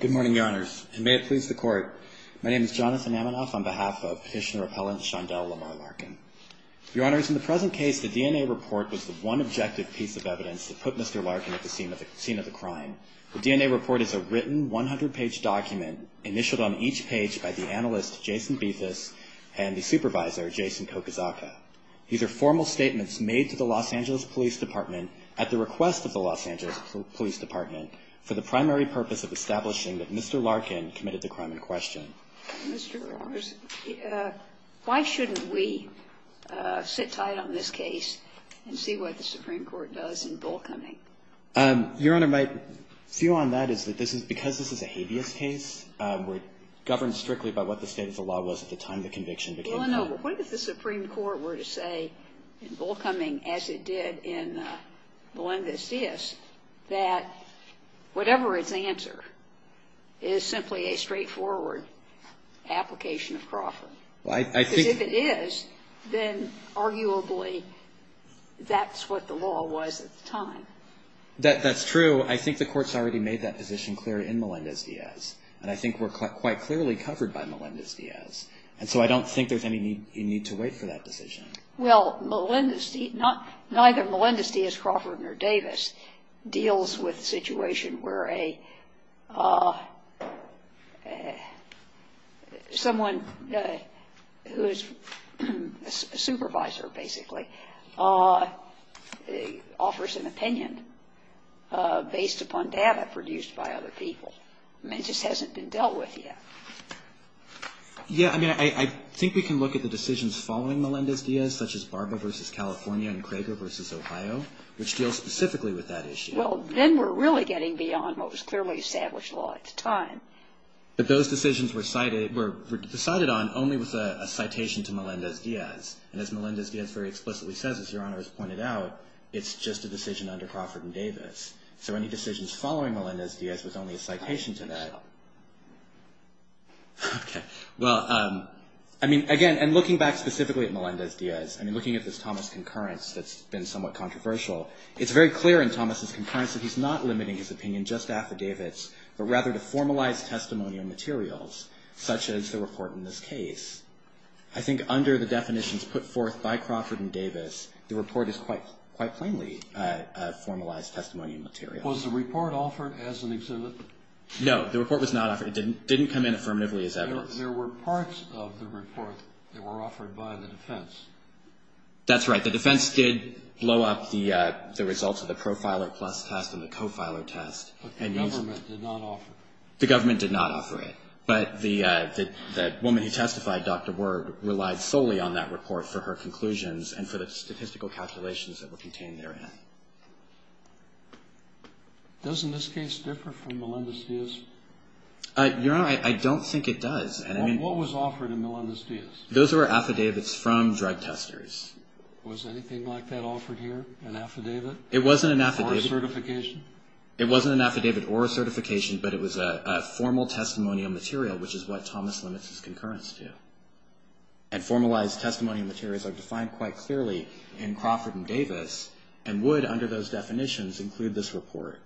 Good morning, Your Honors. And may it please the Court, my name is Jonathan Amanoff on behalf of Petitioner Appellant Shondel Lamar Larkin. Your Honors, in the present case, the DNA report was the one objective piece of evidence that put Mr. Larkin at the scene of the crime. The DNA report is a written, 100-page document, initialed on each page by the analyst, Jason Bethis, and the supervisor, Jason Kokuzaka. These are formal statements made to the Los Angeles Police Department at the request of the Los Angeles Police Department for the primary purpose of establishing that Mr. Larkin committed the crime in question. Mr. Larkin, why shouldn't we sit tight on this case and see what the Supreme Court does in Bull Cunning? Your Honor, my view on that is that this is – because this is a habeas case, we're governed strictly by what the state of the law was at the time the conviction became public. Well, I don't know. What if the Supreme Court were to say in Bull Cunning, as it did in Melendez-Diaz, that whatever its answer is simply a straightforward application of Crawford? Because if it is, then arguably that's what the law was at the time. That's true. I think the Court's already made that position clear in Melendez-Diaz, and I think we're quite clearly covered by Melendez-Diaz. And so I don't think there's any need to wait for that decision. Well, Melendez-Diaz – neither Melendez-Diaz, Crawford, nor Davis deals with a situation where a – someone who is a supervisor, basically, offers an opinion based upon data produced by other people. I mean, it just hasn't been dealt with yet. Yeah. I mean, I think we can look at the decisions following Melendez-Diaz, such as Barber v. California and Cragar v. Ohio, which deal specifically with that issue. Well, then we're really getting beyond what was clearly established law at the time. But those decisions were cited – were decided on only with a citation to Melendez-Diaz. And as Melendez-Diaz very explicitly says, as Your Honor has pointed out, it's just a decision under Crawford and Davis. So any decisions following Melendez-Diaz was only a citation to that. Okay. Well, I mean, again, and looking back specifically at Melendez-Diaz, I mean, looking at this Thomas concurrence that's been somewhat controversial, it's very clear in Thomas's concurrence that he's not limiting his opinion just to affidavits, but rather to formalized testimonial materials, such as the report in this case. I think under the definitions put forth by Crawford and Davis, the report is quite plainly a formalized testimony material. Was the report offered as an exhibit? No. The report was not offered. It didn't come in affirmatively as evidence. There were parts of the report that were offered by the defense. That's right. The defense did blow up the results of the profiler plus test and the co-filer test. But the government did not offer it. The government did not offer it. But the woman who testified, Dr. Ward, relied solely on that report for her conclusions and for the statistical calculations that were contained therein. Doesn't this case differ from Melendez-Diaz? Your Honor, I don't think it does. What was offered in Melendez-Diaz? Those were affidavits from drug testers. Was anything like that offered here, an affidavit? It wasn't an affidavit. Or a certification? It wasn't an affidavit or a certification, but it was a formal testimonial material, which is what Thomas limits his concurrence to. And formalized testimony materials are defined quite clearly in Crawford and Davis, and would, under those definitions, include this report.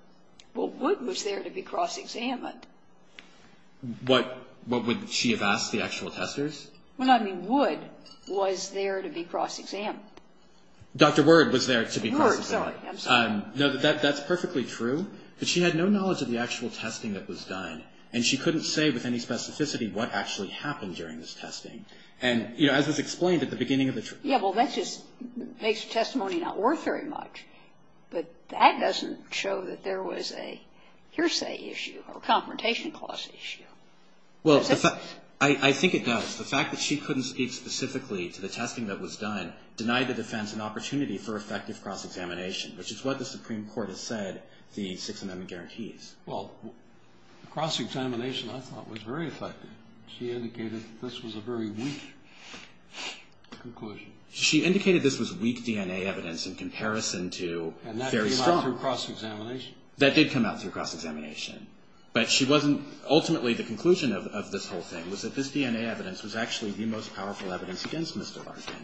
Well, would was there to be cross-examined. What would she have asked the actual testers? Well, I mean, would was there to be cross-examined. Dr. Ward was there to be cross-examined. Ward, sorry. I'm sorry. No, that's perfectly true. But she had no knowledge of the actual testing that was done, and she couldn't say with any specificity what actually happened during this testing. And, you know, as was explained at the beginning of the trial. Yeah, well, that just makes testimony not worth very much. But that doesn't show that there was a hearsay issue or a confrontation clause issue. Well, I think it does. The fact that she couldn't speak specifically to the testing that was done denied the defense an opportunity for effective cross-examination, which is what the Supreme Court has said the Sixth Amendment guarantees. Well, cross-examination, I thought, was very effective. She indicated that this was a very weak conclusion. She indicated this was weak DNA evidence in comparison to very strong. And that came out through cross-examination. That did come out through cross-examination. But she wasn't ultimately the conclusion of this whole thing was that this DNA evidence was actually the most powerful evidence against Mr. Larkin.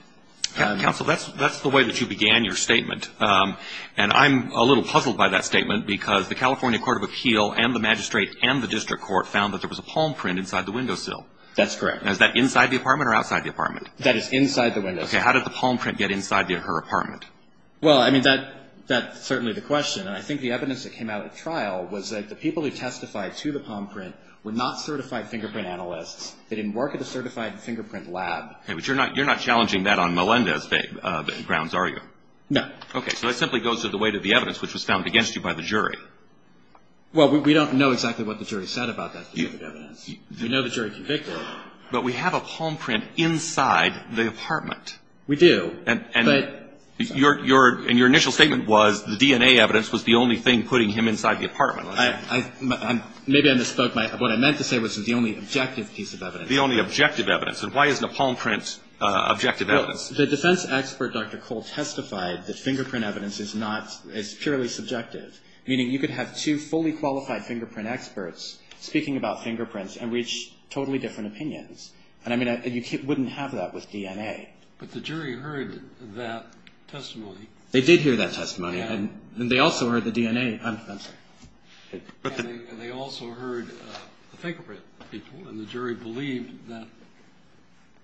Counsel, that's the way that you began your statement. And I'm a little puzzled by that statement because the California Court of Appeal and the magistrate and the district court found that there was a palm print inside the windowsill. That's correct. Is that inside the apartment or outside the apartment? That is inside the windowsill. Okay. How did the palm print get inside her apartment? Well, I mean, that's certainly the question. And I think the evidence that came out at trial was that the people who testified to the palm print were not certified fingerprint analysts. They didn't work at a certified fingerprint lab. But you're not challenging that on Melendez grounds, are you? No. Okay. So that simply goes to the weight of the evidence which was found against you by the jury. Well, we don't know exactly what the jury said about that fingerprint evidence. We know the jury convicted. But we have a palm print inside the apartment. We do. And your initial statement was the DNA evidence was the only thing putting him inside the apartment. Maybe I misspoke. What I meant to say was the only objective piece of evidence. The only objective evidence. And why is the palm print objective evidence? Well, the defense expert, Dr. Cole, testified that fingerprint evidence is not as purely subjective, meaning you could have two fully qualified fingerprint experts speaking about fingerprints and reach totally different opinions. And, I mean, you wouldn't have that with DNA. But the jury heard that testimony. They did hear that testimony. And they also heard the DNA. I'm sorry. And they also heard the fingerprint. And the jury believed that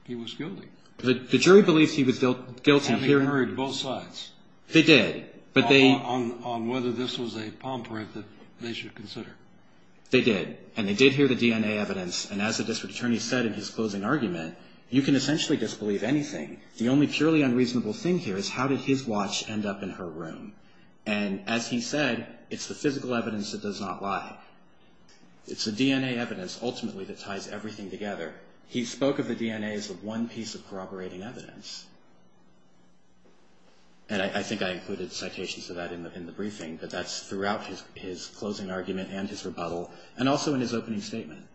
he was guilty. The jury believes he was guilty. And they heard both sides. They did. On whether this was a palm print that they should consider. They did. And they did hear the DNA evidence. And as the district attorney said in his closing argument, you can essentially disbelieve anything. The only purely unreasonable thing here is how did his watch end up in her room. And, as he said, it's the physical evidence that does not lie. It's the DNA evidence, ultimately, that ties everything together. He spoke of the DNA as the one piece of corroborating evidence. And I think I included citations of that in the briefing. But that's throughout his closing argument and his rebuttal and also in his opening statement.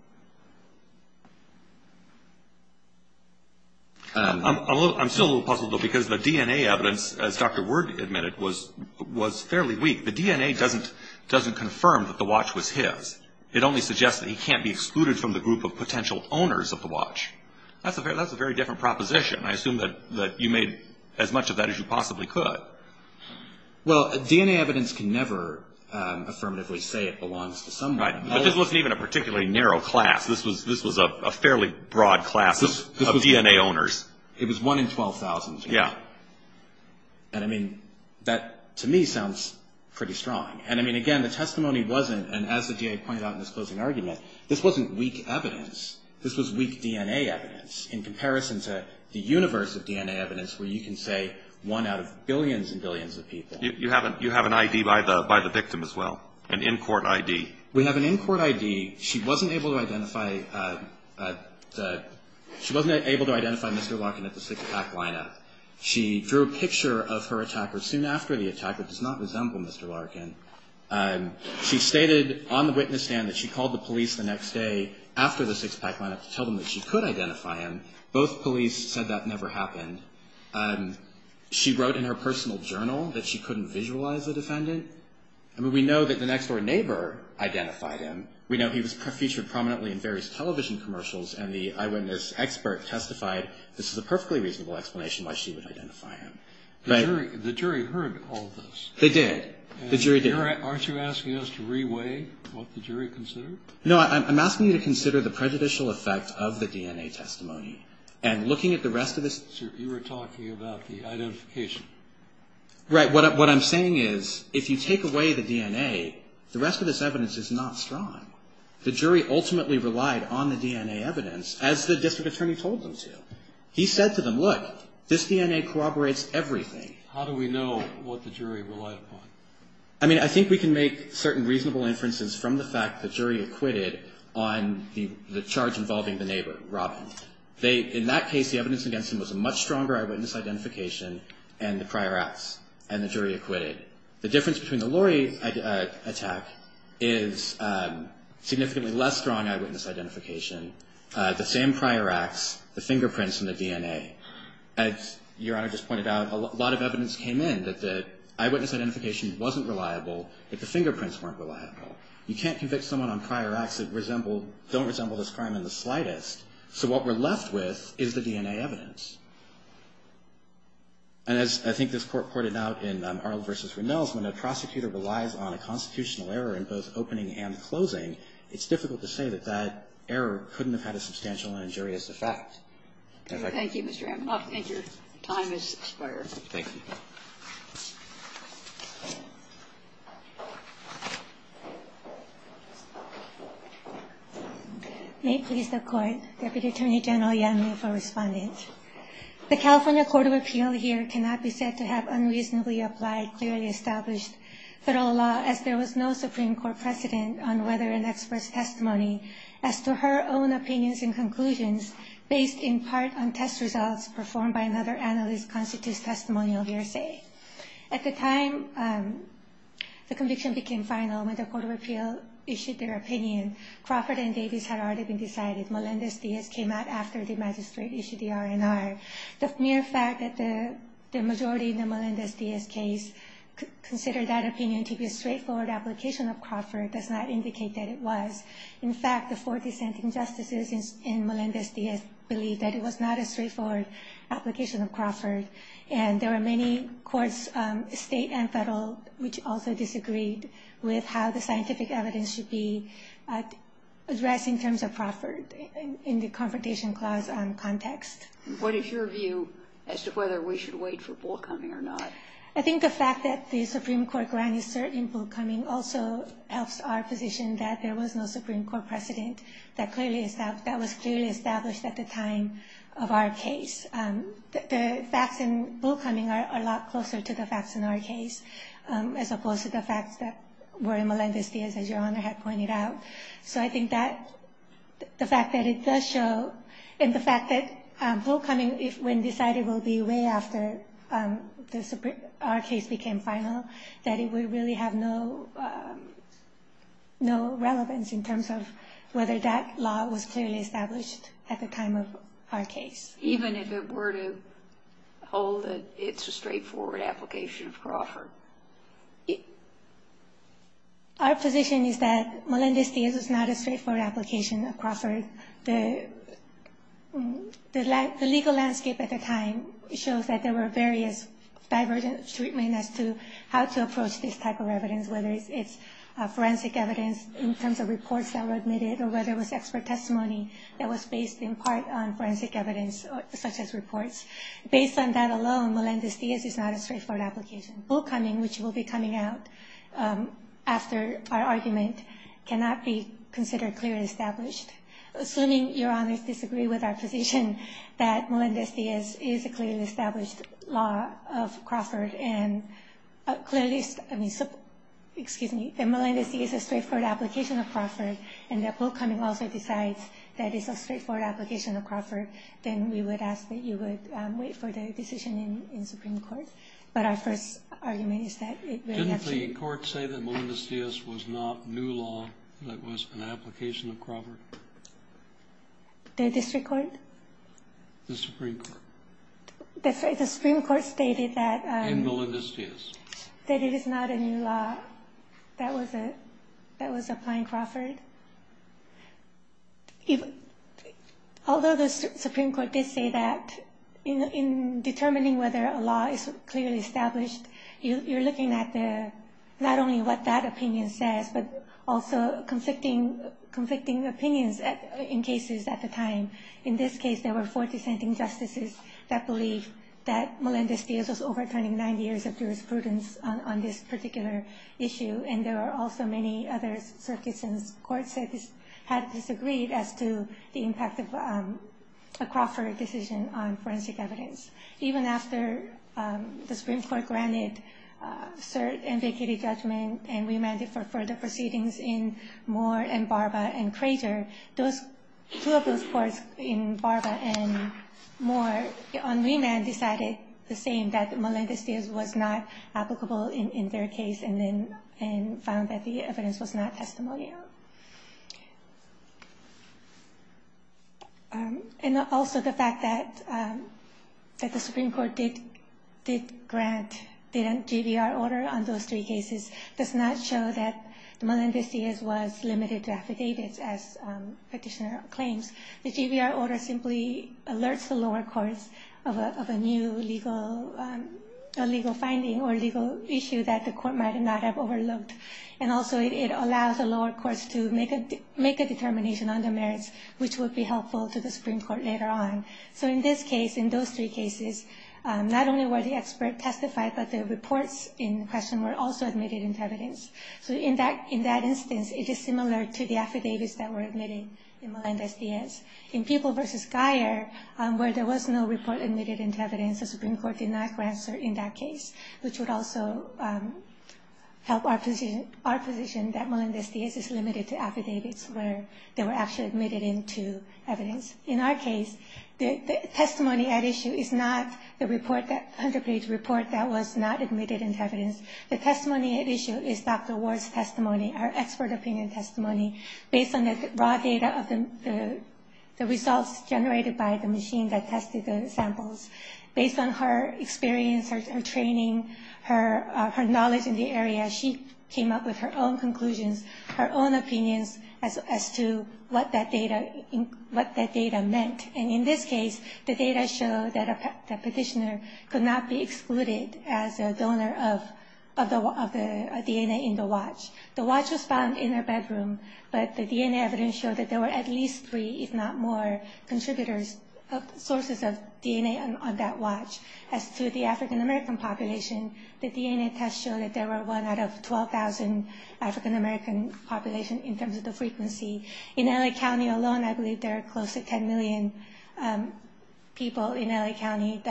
I'm still a little puzzled, though, because the DNA evidence, as Dr. Word admitted, was fairly weak. The DNA doesn't confirm that the watch was his. It only suggests that he can't be excluded from the group of potential owners of the watch. That's a very different proposition. I assume that you made as much of that as you possibly could. Well, DNA evidence can never affirmatively say it belongs to someone. Right. But this wasn't even a particularly narrow case. This was a fairly broad class of DNA owners. It was one in 12,000. Yeah. And, I mean, that to me sounds pretty strong. And, I mean, again, the testimony wasn't, and as the DA pointed out in his closing argument, this wasn't weak evidence. This was weak DNA evidence in comparison to the universe of DNA evidence where you can say one out of billions and billions of people. You have an ID by the victim as well, an in-court ID. We have an in-court ID. She wasn't able to identify Mr. Larkin at the six-pack lineup. She drew a picture of her attacker soon after the attack that does not resemble Mr. Larkin. She stated on the witness stand that she called the police the next day after the six-pack lineup to tell them that she could identify him. Both police said that never happened. She wrote in her personal journal that she couldn't visualize the defendant. I mean, we know that the next-door neighbor identified him. We know he was featured prominently in various television commercials, and the eyewitness expert testified this is a perfectly reasonable explanation why she would identify him. The jury heard all of this. They did. The jury did. Aren't you asking us to re-weigh what the jury considered? No, I'm asking you to consider the prejudicial effect of the DNA testimony. And looking at the rest of this. You were talking about the identification. Right. What I'm saying is if you take away the DNA, the rest of this evidence is not strong. The jury ultimately relied on the DNA evidence, as the district attorney told them to. He said to them, look, this DNA corroborates everything. How do we know what the jury relied upon? I mean, I think we can make certain reasonable inferences from the fact the jury acquitted on the charge involving the neighbor, Robin. In that case, the evidence against him was a much stronger eyewitness identification and the prior acts, and the jury acquitted. The difference between the Lori attack is significantly less strong eyewitness identification, the same prior acts, the fingerprints, and the DNA. As Your Honor just pointed out, a lot of evidence came in that the eyewitness identification wasn't reliable if the fingerprints weren't reliable. You can't convict someone on prior acts that don't resemble this crime in the slightest. So what we're left with is the DNA evidence. And as I think this Court pointed out in Arles v. Rinells, when a prosecutor relies on a constitutional error in both opening and closing, it's difficult to say that that error couldn't have had a substantial and injurious effect. Thank you, Mr. Amanoff, and your time has expired. Thank you. May it please the Court. Deputy Attorney General Yan Lee for respondent. The California Court of Appeal here cannot be said to have unreasonably applied, clearly established federal law, as there was no Supreme Court precedent on whether an expert's testimony as to her own opinions and conclusions based in part on test results performed by another analyst constitutes testimonial hearsay. At the time the conviction became final, when the Court of Appeal issued their opinion, Crawford and Davis had already been decided. Melendez-Diaz came out after the magistrate issued the R&R. The mere fact that the majority in the Melendez-Diaz case considered that opinion to be a straightforward application of Crawford does not indicate that it was. In fact, the four dissenting justices in Melendez-Diaz believed that it was not a straightforward application of Crawford. And there were many courts, state and federal, which also disagreed with how the scientific evidence should be addressed in terms of Crawford in the Confrontation Clause context. What is your view as to whether we should wait for Bullcoming or not? I think the fact that the Supreme Court granted certain Bullcoming also helps our position that there was no Supreme Court precedent that was clearly established at the time of our case. The facts in Bullcoming are a lot closer to the facts in our case, as opposed to the facts that were in Melendez-Diaz, as Your Honor had pointed out. So I think that the fact that it does show, and the fact that Bullcoming, when decided, will be way after our case became final, that it would really have no relevance in terms of whether that law was clearly established at the time of our case. Even if it were to hold that it's a straightforward application of Crawford? Our position is that Melendez-Diaz is not a straightforward application of Crawford. The legal landscape at the time shows that there were various divergent treatments as to how to approach this type of evidence, whether it's forensic evidence in terms of reports that were admitted, or whether it was expert testimony that was based in part on forensic evidence, such as reports. Based on that alone, Melendez-Diaz is not a straightforward application. Bullcoming, which will be coming out after our argument, cannot be considered clearly established. Assuming Your Honors disagree with our position that Melendez-Diaz is a clearly established law of Crawford, and clearly, excuse me, that Melendez-Diaz is a straightforward application of Crawford, and that Bullcoming also decides that it's a straightforward application of Crawford, then we would ask that you would wait for the decision in Supreme Court. But our first argument is that it really has to be... Didn't the court say that Melendez-Diaz was not new law, that it was an application of Crawford? The district court? The Supreme Court. The Supreme Court stated that... In Melendez-Diaz. That it is not a new law. That was applying Crawford. Although the Supreme Court did say that, in determining whether a law is clearly established, you're looking at not only what that opinion says, but also conflicting opinions in cases at the time. In this case, there were four dissenting justices that believed that Melendez-Diaz was overturning nine years of jurisprudence on this particular issue, and there were also many other circuits and courts that had disagreed as to the impact of a Crawford decision on forensic evidence. Even after the Supreme Court granted cert and vacated judgment, and we amended for further proceedings in Moore and Barba and Crazer, two of those courts in Barba and Moore, on remand, decided the same, that Melendez-Diaz was not applicable in their case, and found that the evidence was not testimonial. And also the fact that the Supreme Court did grant, did a JVR order on those three cases, does not show that Melendez-Diaz was limited to affidavits, as petitioner claims. The JVR order simply alerts the lower courts of a new legal finding or legal issue that the court might not have overlooked. And also it allows the lower courts to make a determination on the merits, which would be helpful to the Supreme Court later on. So in this case, in those three cases, not only were the experts testified, but the reports in question were also admitted into evidence. So in that instance, it is similar to the affidavits that were admitted in Melendez-Diaz. In Peeble v. Geyer, where there was no report admitted into evidence, the Supreme Court did not grant cert in that case, which would also help our position that Melendez-Diaz is limited to affidavits where they were actually admitted into evidence. In our case, the testimony at issue is not the report, that 100-page report that was not admitted into evidence. The testimony at issue is Dr. Ward's testimony, her expert opinion testimony, based on the raw data of the results generated by the machine that tested the samples. Based on her experience, her training, her knowledge in the area, she came up with her own conclusions, her own opinions as to what that data meant. And in this case, the data showed that a petitioner could not be excluded as a donor of the DNA in the watch. The watch was found in her bedroom, but the DNA evidence showed that there were at least three, if not more, contributors of sources of DNA on that watch. As to the African-American population, the DNA test showed that there were one out of 12,000 African-American population in terms of the frequency. In L.A. County alone, I believe there are close to 10 million people in L.A. County,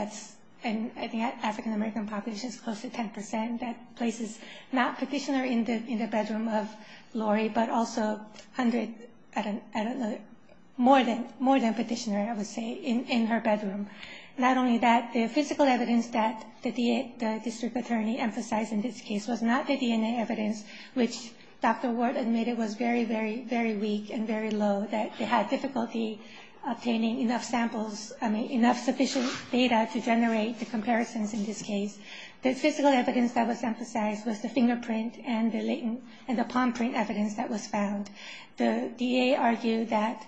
and I think African-American population is close to 10%. That place is not petitioner in the bedroom of Lori, but also more than petitioner, I would say, in her bedroom. Not only that, the physical evidence that the district attorney emphasized in this case was not the DNA evidence, which Dr. Ward admitted was very, very, very weak and very low, that they had difficulty obtaining enough samples, I mean enough sufficient data to generate the comparisons in this case. The physical evidence that was emphasized was the fingerprint and the palm print evidence that was found. The DA argued that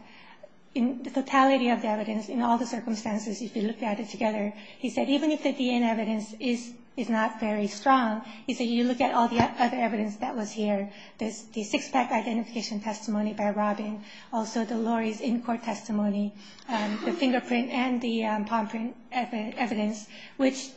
in the totality of the evidence, in all the circumstances, if you look at it together, he said even if the DNA evidence is not very strong, he said you look at all the other evidence that was here, the six-pack identification testimony by Robin, also the Lori's in-court testimony, the fingerprint and the palm print evidence, which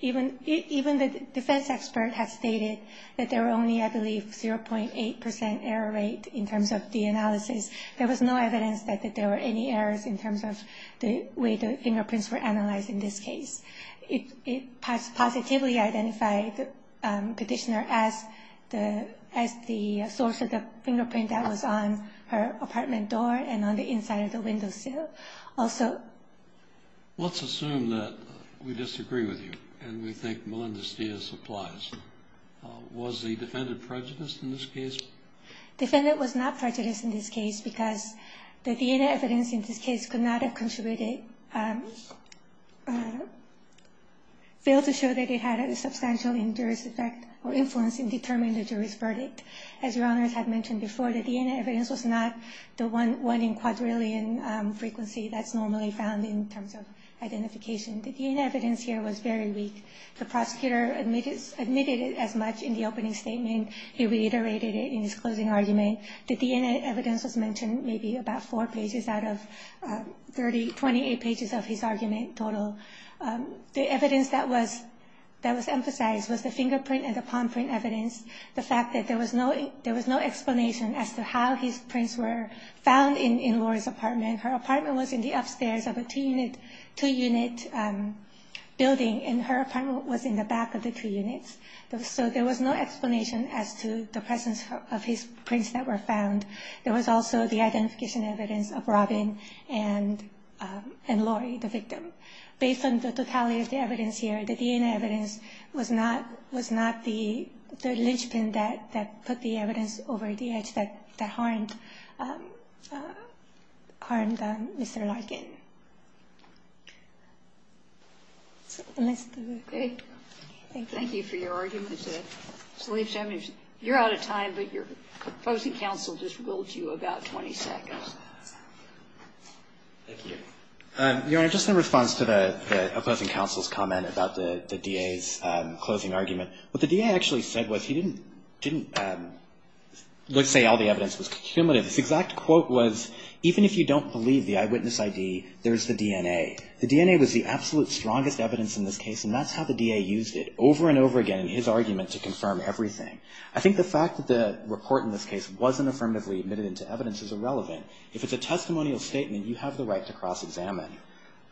even the defense expert has stated that there were only, I believe, 0.8% error rate in terms of the analysis. There was no evidence that there were any errors in terms of the way the fingerprints were analyzed in this case. It positively identified the petitioner as the source of the fingerprint that was on her apartment door and on the inside of the windowsill. Let's assume that we disagree with you and we think Melendez-Diaz applies. Was the defendant prejudiced in this case? The defendant was not prejudiced in this case because the DNA evidence in this case could not have contributed, failed to show that it had a substantial injurious effect or influence in determining the jury's verdict. As Your Honors had mentioned before, the DNA evidence was not the one in quadrillion frequency that's normally found in terms of identification. The DNA evidence here was very weak. The prosecutor admitted it as much in the opening statement. He reiterated it in his closing argument. The DNA evidence was mentioned maybe about four pages out of 28 pages of his argument total. The evidence that was emphasized was the fingerprint and the palm print evidence. The fact that there was no explanation as to how his prints were found in Lori's apartment. Her apartment was in the upstairs of a two-unit building and her apartment was in the back of the two units. So there was no explanation as to the presence of his prints that were found. There was also the identification evidence of Robin and Lori, the victim. So based on the totality of the evidence here, the DNA evidence was not the linchpin that put the evidence over the edge that harmed Mr. Larkin. So let's do it. Thank you. Thank you for your argument. You're out of time, but your opposing counsel just ruled you about 20 seconds. Thank you. Your Honor, just in response to the opposing counsel's comment about the DA's closing argument, what the DA actually said was he didn't say all the evidence was cumulative. His exact quote was, even if you don't believe the eyewitness ID, there's the DNA. The DNA was the absolute strongest evidence in this case, and that's how the DA used it over and over again in his argument to confirm everything. I think the fact that the report in this case wasn't affirmatively admitted into evidence is irrelevant. If it's a testimonial statement, you have the right to cross-examine.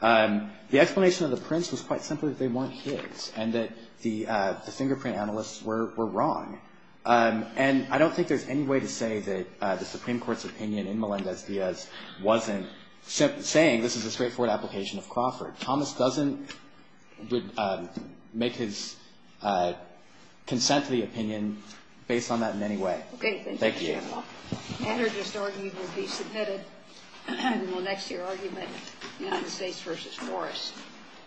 The explanation of the prints was quite simply that they weren't his and that the fingerprint analysts were wrong. And I don't think there's any way to say that the Supreme Court's opinion in Melendez-Diaz wasn't saying this is a straightforward application of Crawford. Thomas doesn't make his consent to the opinion based on that in any way. Thank you. Thank you, General. The other disargument will be submitted in the next year argument, United States v. Forrest.